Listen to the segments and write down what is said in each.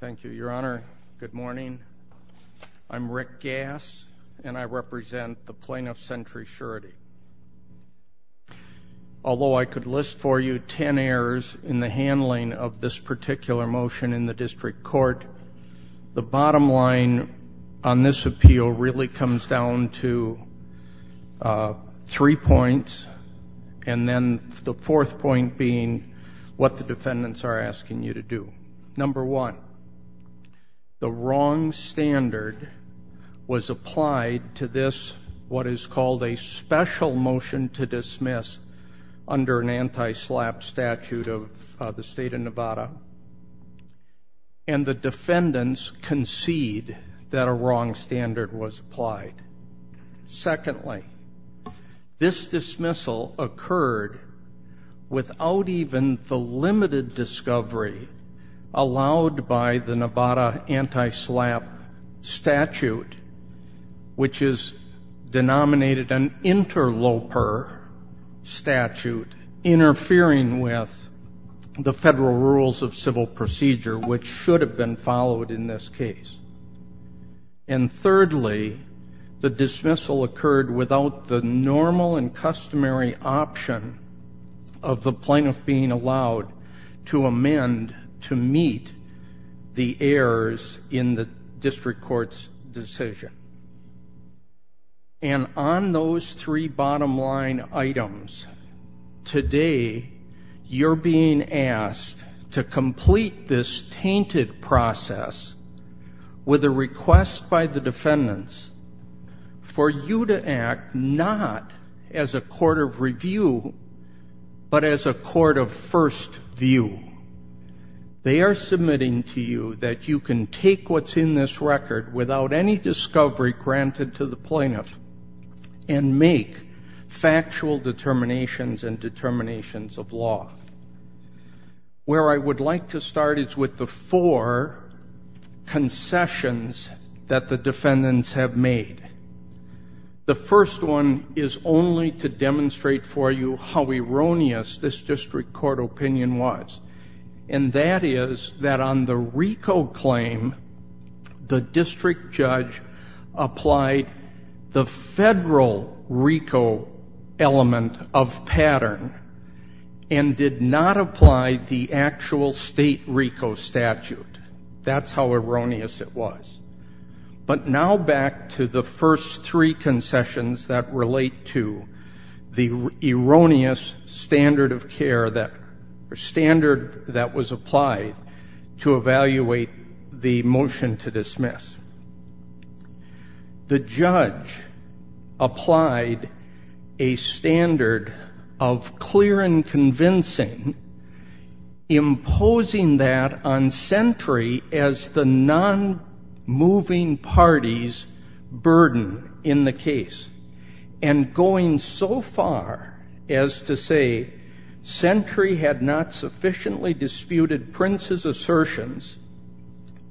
Thank you, Your Honor. Good morning. I'm Rick Gass, and I represent the plaintiff, Century Surety. Although I could list for you ten errors in the handling of this particular motion in the district court, the bottom line on this appeal really comes down to three points, and then the fourth point being what the defendants are asking you to do. Number one, the wrong standard was applied to this what is called a special motion to dismiss under an anti-SLAPP statute of the state of Nevada, and the defendants concede that a wrong standard was applied. Secondly, this dismissal occurred without even the limited discovery allowed by the Nevada anti-SLAPP statute, which is denominated an interloper statute interfering with the federal rules of civil procedure, which should have been followed in this case. And thirdly, the dismissal occurred without the normal and customary option of the plaintiff being allowed to amend to meet the errors in the district court's decision. And on those three bottom line items, today you're being asked to complete this tainted process with a request by the defendants for you to act not as a court of review, but as a court of first view. They are submitting to you that you can take what's in this record without any discovery granted to the plaintiff and make factual determinations and determinations of law. Where I would like to start is with the four concessions that the defendants have made. The first one is only to demonstrate for you how erroneous this district court opinion was, and that is that on the RICO claim, the district judge applied the federal RICO element of pattern and did not apply the actual state RICO statute. That's how erroneous it was. But now back to the first three concessions that relate to the erroneous standard of care or standard that was applied to evaluate the motion to dismiss. The judge applied a standard of clear and convincing, imposing that on Sentry as the non-moving party's burden in the case, and going so far as to say Sentry had not sufficiently disputed Prince's assertions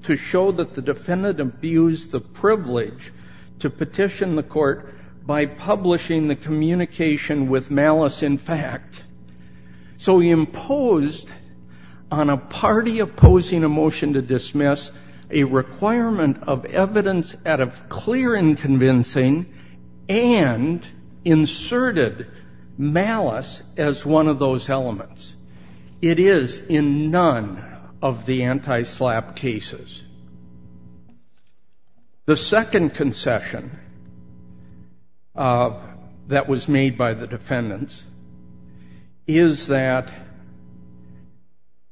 to show that the defendant abused the privilege to petition the court by publishing the communication with malice in fact. So he imposed on a party opposing a motion to dismiss a requirement of evidence out of clear and convincing and inserted malice as one of those elements. It is in none of the anti-SLAPP cases. The second concession that was made by the defendants is that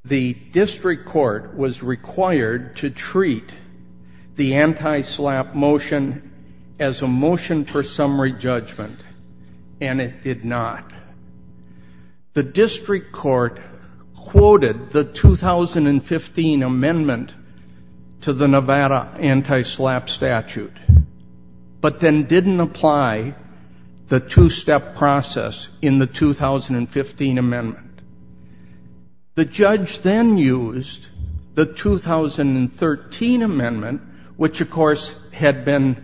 the district court was required to treat the anti-SLAPP motion as a motion for summary judgment, and it did not. The district court quoted the 2015 amendment to the Nevada anti-SLAPP statute, but then didn't apply the two-step process in the 2015 amendment. The judge then used the 2013 amendment, which of course had been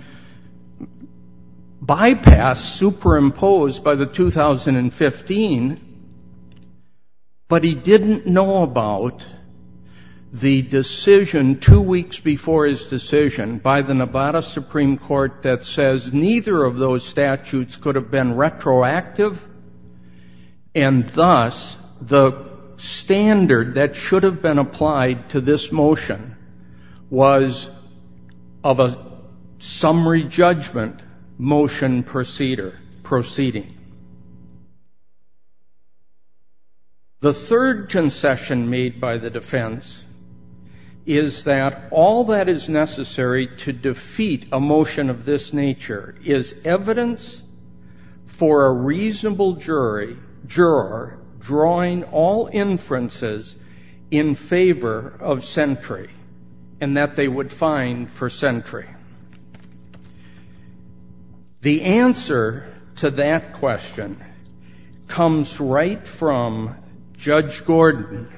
bypassed, superimposed by the 2015, but he didn't know about the decision two weeks before his decision by the Nevada Supreme Court that says neither of those statutes could have been retroactive, and thus the standard that should have been applied to this motion was of a summary judgment motion proceeding. The third concession made by the defense is that all that is necessary to defeat a motion of this nature is evidence for a reasonable juror drawing all inferences in favor of sentry and that they would find for sentry. The answer to that question comes right from Judge Gordon,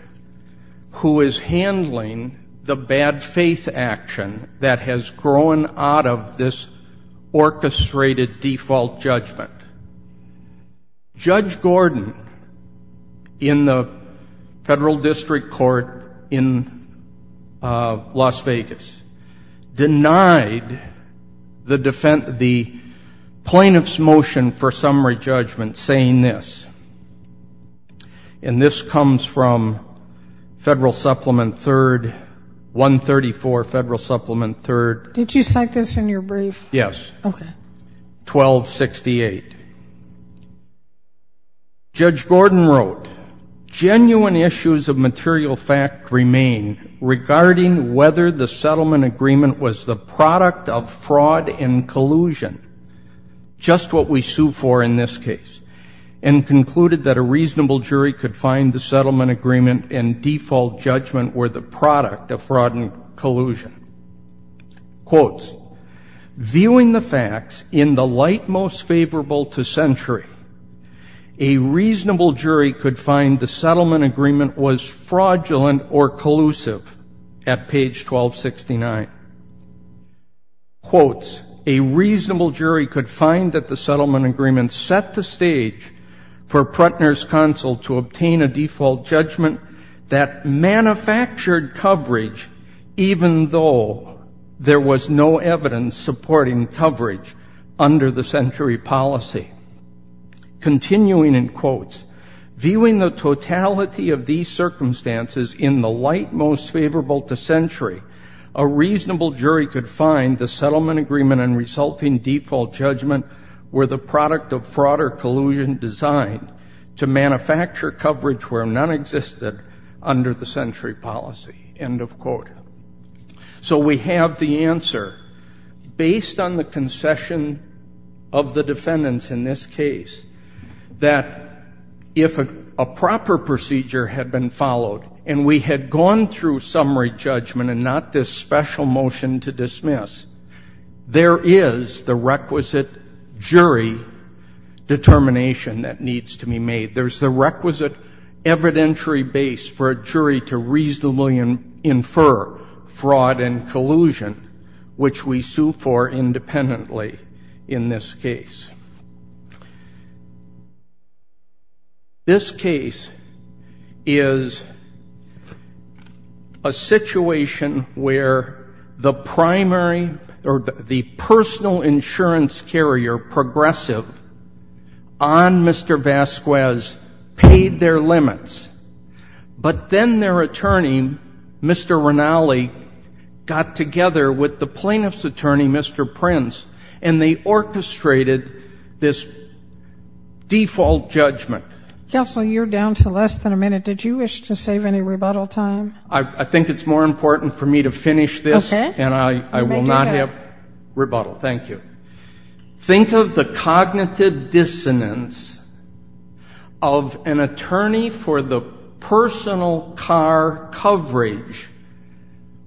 who is handling the bad faith action that has grown out of this orchestrated default judgment. Judge Gordon, in the federal district court in Las Vegas, denied the plaintiff's motion for summary judgment saying this, and this comes from Federal Supplement 3rd, 134 Federal Supplement 3rd. Did you cite this in your brief? Yes. Okay. 1268. Judge Gordon wrote, genuine issues of material fact remain regarding whether the settlement agreement was the product of fraud and collusion, just what we sue for in this case, and concluded that a reasonable jury could find the settlement agreement and default judgment were the product of fraud and collusion. Quotes, Viewing the facts in the light most favorable to sentry, a reasonable jury could find the settlement agreement was fraudulent or collusive at page 1269. Quotes, supporting coverage under the sentry policy. Continuing in quotes, Viewing the totality of these circumstances in the light most favorable to sentry, a reasonable jury could find the settlement agreement and resulting default judgment were the product of fraud or collusion designed to manufacture coverage where none existed under the sentry policy. End of quote. So we have the answer, based on the concession of the defendants in this case, that if a proper procedure had been followed and we had gone through summary judgment and not this special motion to dismiss, there is the requisite jury determination that needs to be made. There's the requisite evidentiary base for a jury to reasonably infer fraud and collusion, which we sue for independently in this case. This case is a situation where the primary or the personal insurance carrier progressive on Mr. Vasquez paid their limits, but then their attorney, Mr. Rinaldi, got together with the plaintiff's attorney, Mr. Prince, and they orchestrated this default judgment. Counsel, you're down to less than a minute. Did you wish to save any rebuttal time? I think it's more important for me to finish this, and I will not have rebuttal. Thank you. Think of the cognitive dissonance of an attorney for the personal car coverage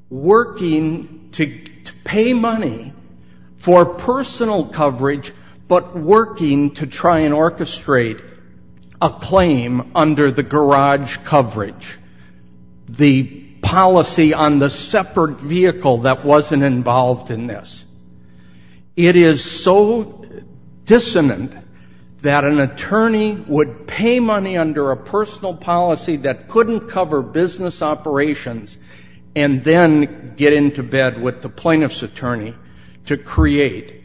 working to pay money for personal coverage but working to try and orchestrate a claim under the garage coverage, the policy on the separate vehicle that wasn't involved in this. It is so dissonant that an attorney would pay money under a personal policy that couldn't cover business operations and then get into bed with the plaintiff's attorney to create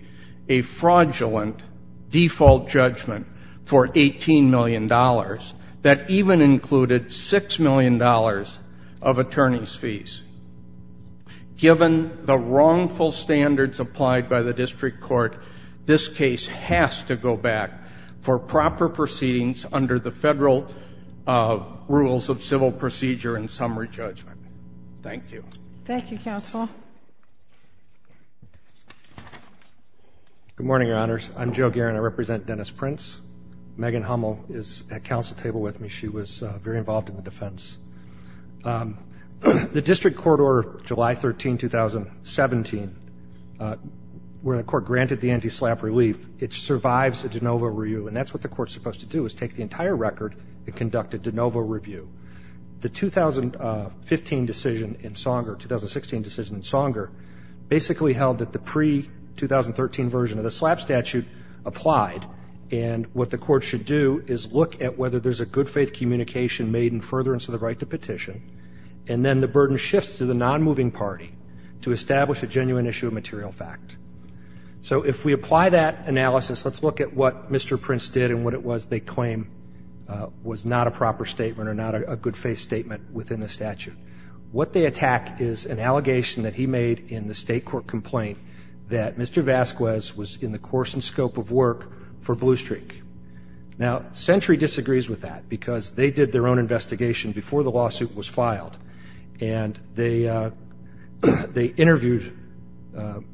a fraudulent default judgment for $18 million that even included $6 million of attorney's fees. Given the wrongful standards applied by the district court, this case has to go back for proper proceedings under the federal rules of civil procedure and summary judgment. Thank you. Thank you, Counsel. Good morning, Your Honors. I'm Joe Guerin. I represent Dennis Prince. Megan Hummel is at counsel table with me. She was very involved in the defense. The district court order July 13, 2017, where the court granted the anti-SLAPP relief, it survives a de novo review, and that's what the court's supposed to do is take the entire record and conduct a de novo review. The 2015 decision in Songer, 2016 decision in Songer, basically held that the pre-2013 version of the SLAPP statute applied, and what the court should do is look at whether there's a good faith communication made in furtherance of the right to petition, and then the burden shifts to the non-moving party to establish a genuine issue of material fact. So if we apply that analysis, let's look at what Mr. Prince did and what it was they claim was not a proper statement or not a good faith statement within the statute. What they attack is an allegation that he made in the state court complaint that Mr. Vasquez was in the course and scope of work for Blue Streak. Now Century disagrees with that because they did their own investigation before the lawsuit was filed, and they interviewed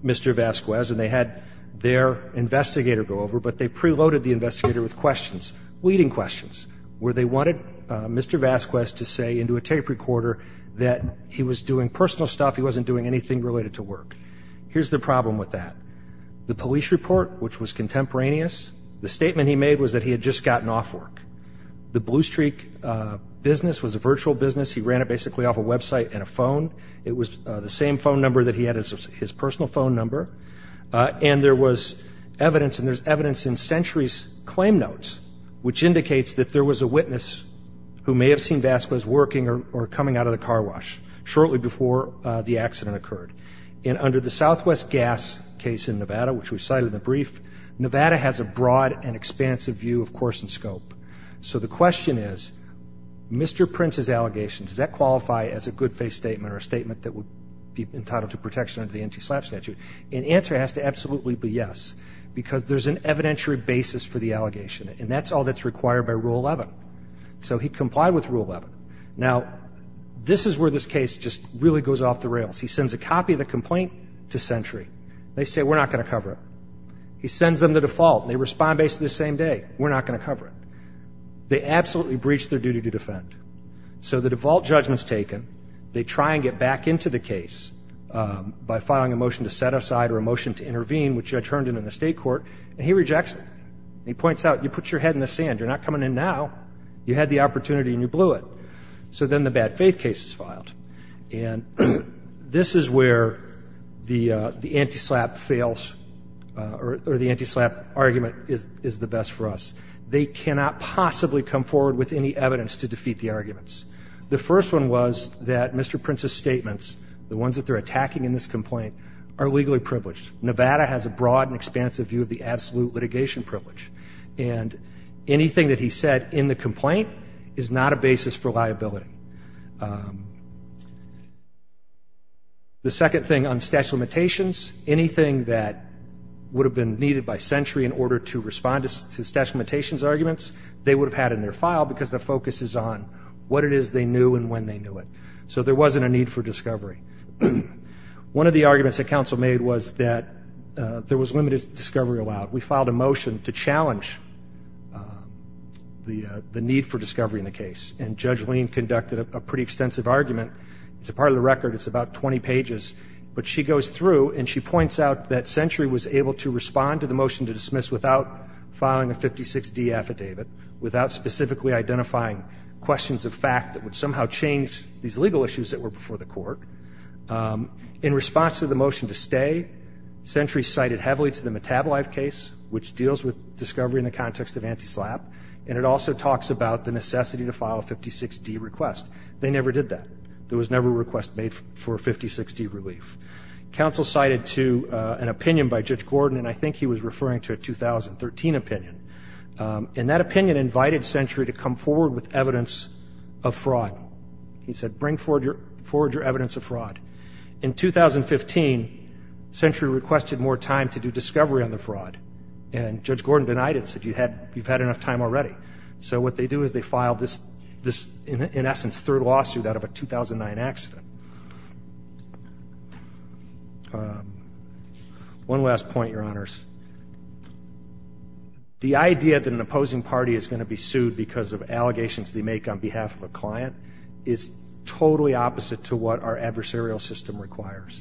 Mr. Vasquez, and they had their investigator go over, but they preloaded the investigator with questions, leading questions, where they wanted Mr. Vasquez to say into a tape recorder that he was doing personal stuff, he wasn't doing anything related to work. Here's the problem with that. The police report, which was contemporaneous, the statement he made was that he had just gotten off work. The Blue Streak business was a virtual business. He ran it basically off a website and a phone. It was the same phone number that he had as his personal phone number, and there was evidence, and there's evidence in Century's claim notes, which indicates that there was a witness who may have seen Vasquez working or coming out of the car wash shortly before the accident occurred. Nevada has a broad and expansive view of course and scope. So the question is, Mr. Prince's allegation, does that qualify as a good-faith statement or a statement that would be entitled to protection under the NTSLAP statute? And the answer has to absolutely be yes because there's an evidentiary basis for the allegation, and that's all that's required by Rule 11. So he complied with Rule 11. Now, this is where this case just really goes off the rails. He sends a copy of the complaint to Century. They say, We're not going to cover it. He sends them the default, and they respond basically the same day. We're not going to cover it. They absolutely breach their duty to defend. So the default judgment is taken. They try and get back into the case by filing a motion to set aside or a motion to intervene, which Judge Herndon in the state court, and he rejects it. He points out, You put your head in the sand. You're not coming in now. So then the bad-faith case is filed. And this is where the NTSLAP fails or the NTSLAP argument is the best for us. They cannot possibly come forward with any evidence to defeat the arguments. The first one was that Mr. Prince's statements, the ones that they're attacking in this complaint, are legally privileged. Nevada has a broad and expansive view of the absolute litigation privilege, and anything that he said in the complaint is not a basis for liability. The second thing on statute of limitations, anything that would have been needed by sentry in order to respond to statute of limitations arguments, they would have had in their file because the focus is on what it is they knew and when they knew it. So there wasn't a need for discovery. One of the arguments that counsel made was that there was limited discovery allowed. We filed a motion to challenge the need for discovery in the case, and Judge Lean conducted a pretty extensive argument. It's a part of the record. It's about 20 pages. But she goes through and she points out that sentry was able to respond to the motion to dismiss without filing a 56D affidavit, without specifically identifying questions of fact that would somehow change these legal issues that were before the court. In response to the motion to stay, sentry cited heavily to the metabolite case, which deals with discovery in the context of NTSLAP, and it also talks about the necessity to file a 56D request. They never did that. There was never a request made for a 56D relief. Counsel cited to an opinion by Judge Gordon, and I think he was referring to a 2013 opinion, and that opinion invited sentry to come forward with evidence of fraud. He said, bring forward your evidence of fraud. In 2015, sentry requested more time to do discovery on the fraud, and Judge Gordon denied it and said, you've had enough time already. So what they do is they file this, in essence, third lawsuit out of a 2009 accident. One last point, Your Honors. The idea that an opposing party is going to be sued because of allegations they make on behalf of a client is totally opposite to what our adversarial system requires.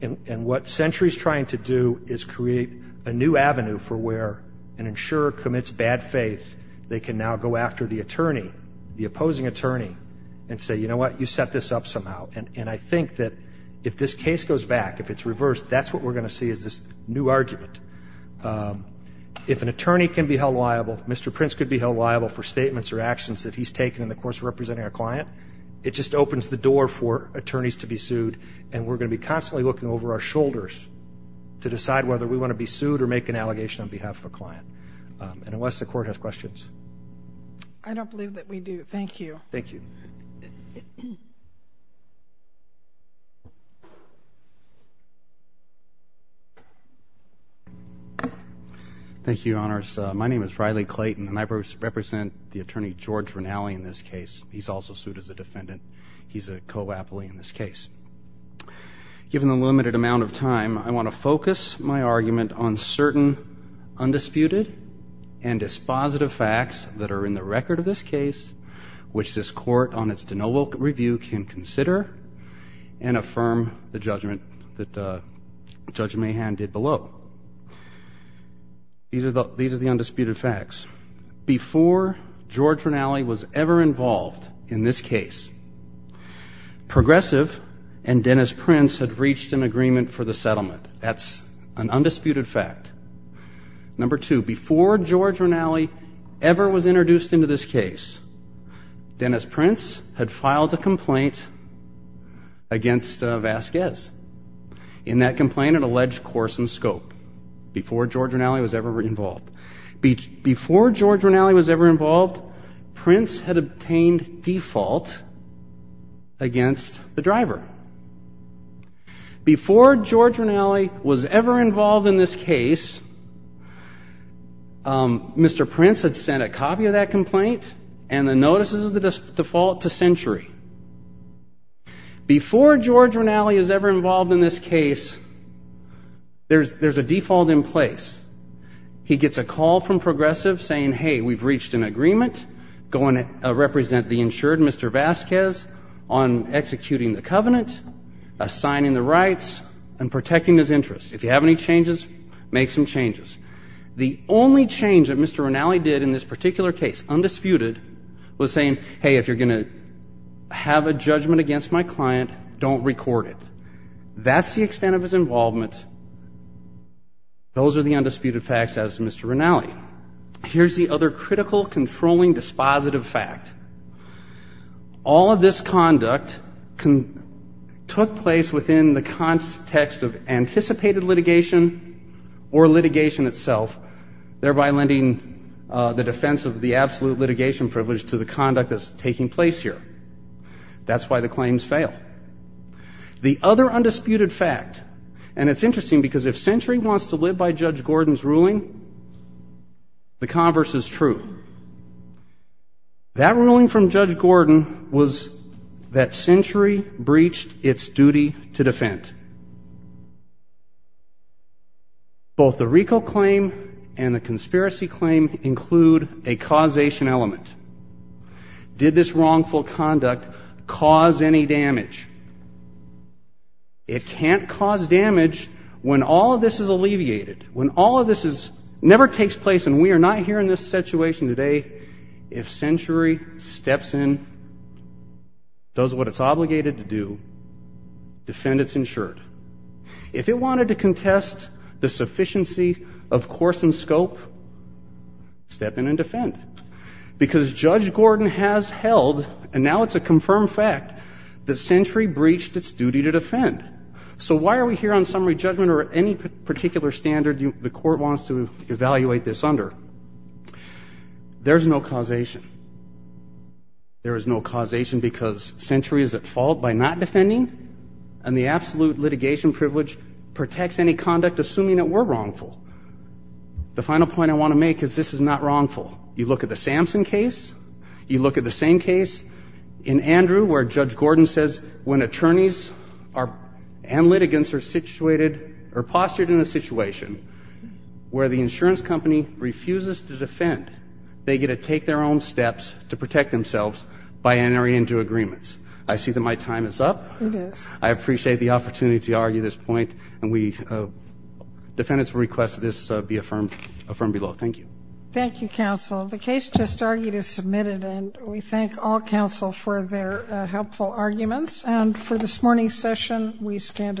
And what sentry is trying to do is create a new avenue for where an insurer commits bad faith. They can now go after the attorney, the opposing attorney, and say, you know what, you set this up somehow. And I think that if this case goes back, if it's reversed, that's what we're going to see is this new argument. If an attorney can be held liable, Mr. Prince could be held liable for statements or actions that he's taken in the course of representing a client, it just opens the door for attorneys to be sued, and we're going to be constantly looking over our shoulders to decide whether we want to be sued or make an allegation on behalf of a client. And unless the Court has questions. I don't believe that we do. Thank you. Thank you. Thank you, Your Honors. My name is Riley Clayton, and I represent the attorney, George Rinali, in this case. He's also sued as a defendant. He's a co-appley in this case. Given the limited amount of time, I want to focus my argument on certain undisputed and dispositive facts that are in the record of this case, which this Court, on its de novo review, can consider and affirm the judgment that Judge Mahan did below. These are the undisputed facts. Before George Rinali was ever involved in this case, Progressive and Dennis Prince had reached an agreement for the settlement. That's an undisputed fact. Number two, before George Rinali ever was introduced into this case, Dennis Prince had filed a complaint against Vasquez. In that complaint, it alleged course and scope, before George Rinali was ever involved. Before George Rinali was ever involved, Prince had obtained default against the driver. Before George Rinali was ever involved in this case, Mr. Prince had sent a copy of that complaint and the notices of the default to Century. Before George Rinali is ever involved in this case, there's a default in place. He gets a call from Progressive saying, hey, we've reached an agreement, going to represent the insured Mr. Vasquez on executing the covenant, assigning the rights, and protecting his interests. If you have any changes, make some changes. The only change that Mr. Rinali did in this particular case, undisputed, was saying, hey, if you're going to have a judgment against my client, don't record it. That's the extent of his involvement. Those are the undisputed facts as to Mr. Rinali. Here's the other critical, controlling, dispositive fact. All of this conduct took place within the context of anticipated litigation or litigation itself, thereby lending the defense of the absolute litigation privilege to the conduct that's taking place here. That's why the claims fail. The other undisputed fact, and it's interesting because if Century wants to live by Judge Gordon's ruling, the converse is true. That ruling from Judge Gordon was that Century breached its duty to defend. Both the RICO claim and the conspiracy claim include a causation element. Did this wrongful conduct cause any damage? It can't cause damage when all of this is alleviated, when all of this never takes place, and we are not here in this situation today if Century steps in, does what it's obligated to do, defend its insured. If it wanted to contest the sufficiency of course and scope, step in and defend. Because Judge Gordon has held, and now it's a confirmed fact, that Century breached its duty to defend. So why are we here on summary judgment or any particular standard the court wants to evaluate this under? There's no causation. There is no causation because Century is at fault by not defending, and the absolute litigation privilege protects any conduct assuming it were wrongful. The final point I want to make is this is not wrongful. You look at the Samson case, you look at the same case in Andrew where Judge Gordon says when attorneys and litigants are situated or postured in a situation where the insurance company refuses to defend, they get to take their own steps to protect themselves by entering into agreements. I see that my time is up. It is. I appreciate the opportunity to argue this point, and defendants will request this be affirmed below. Thank you. Thank you, counsel. The case just argued is submitted, and we thank all counsel for their helpful arguments. And for this morning's session, we stand adjourned.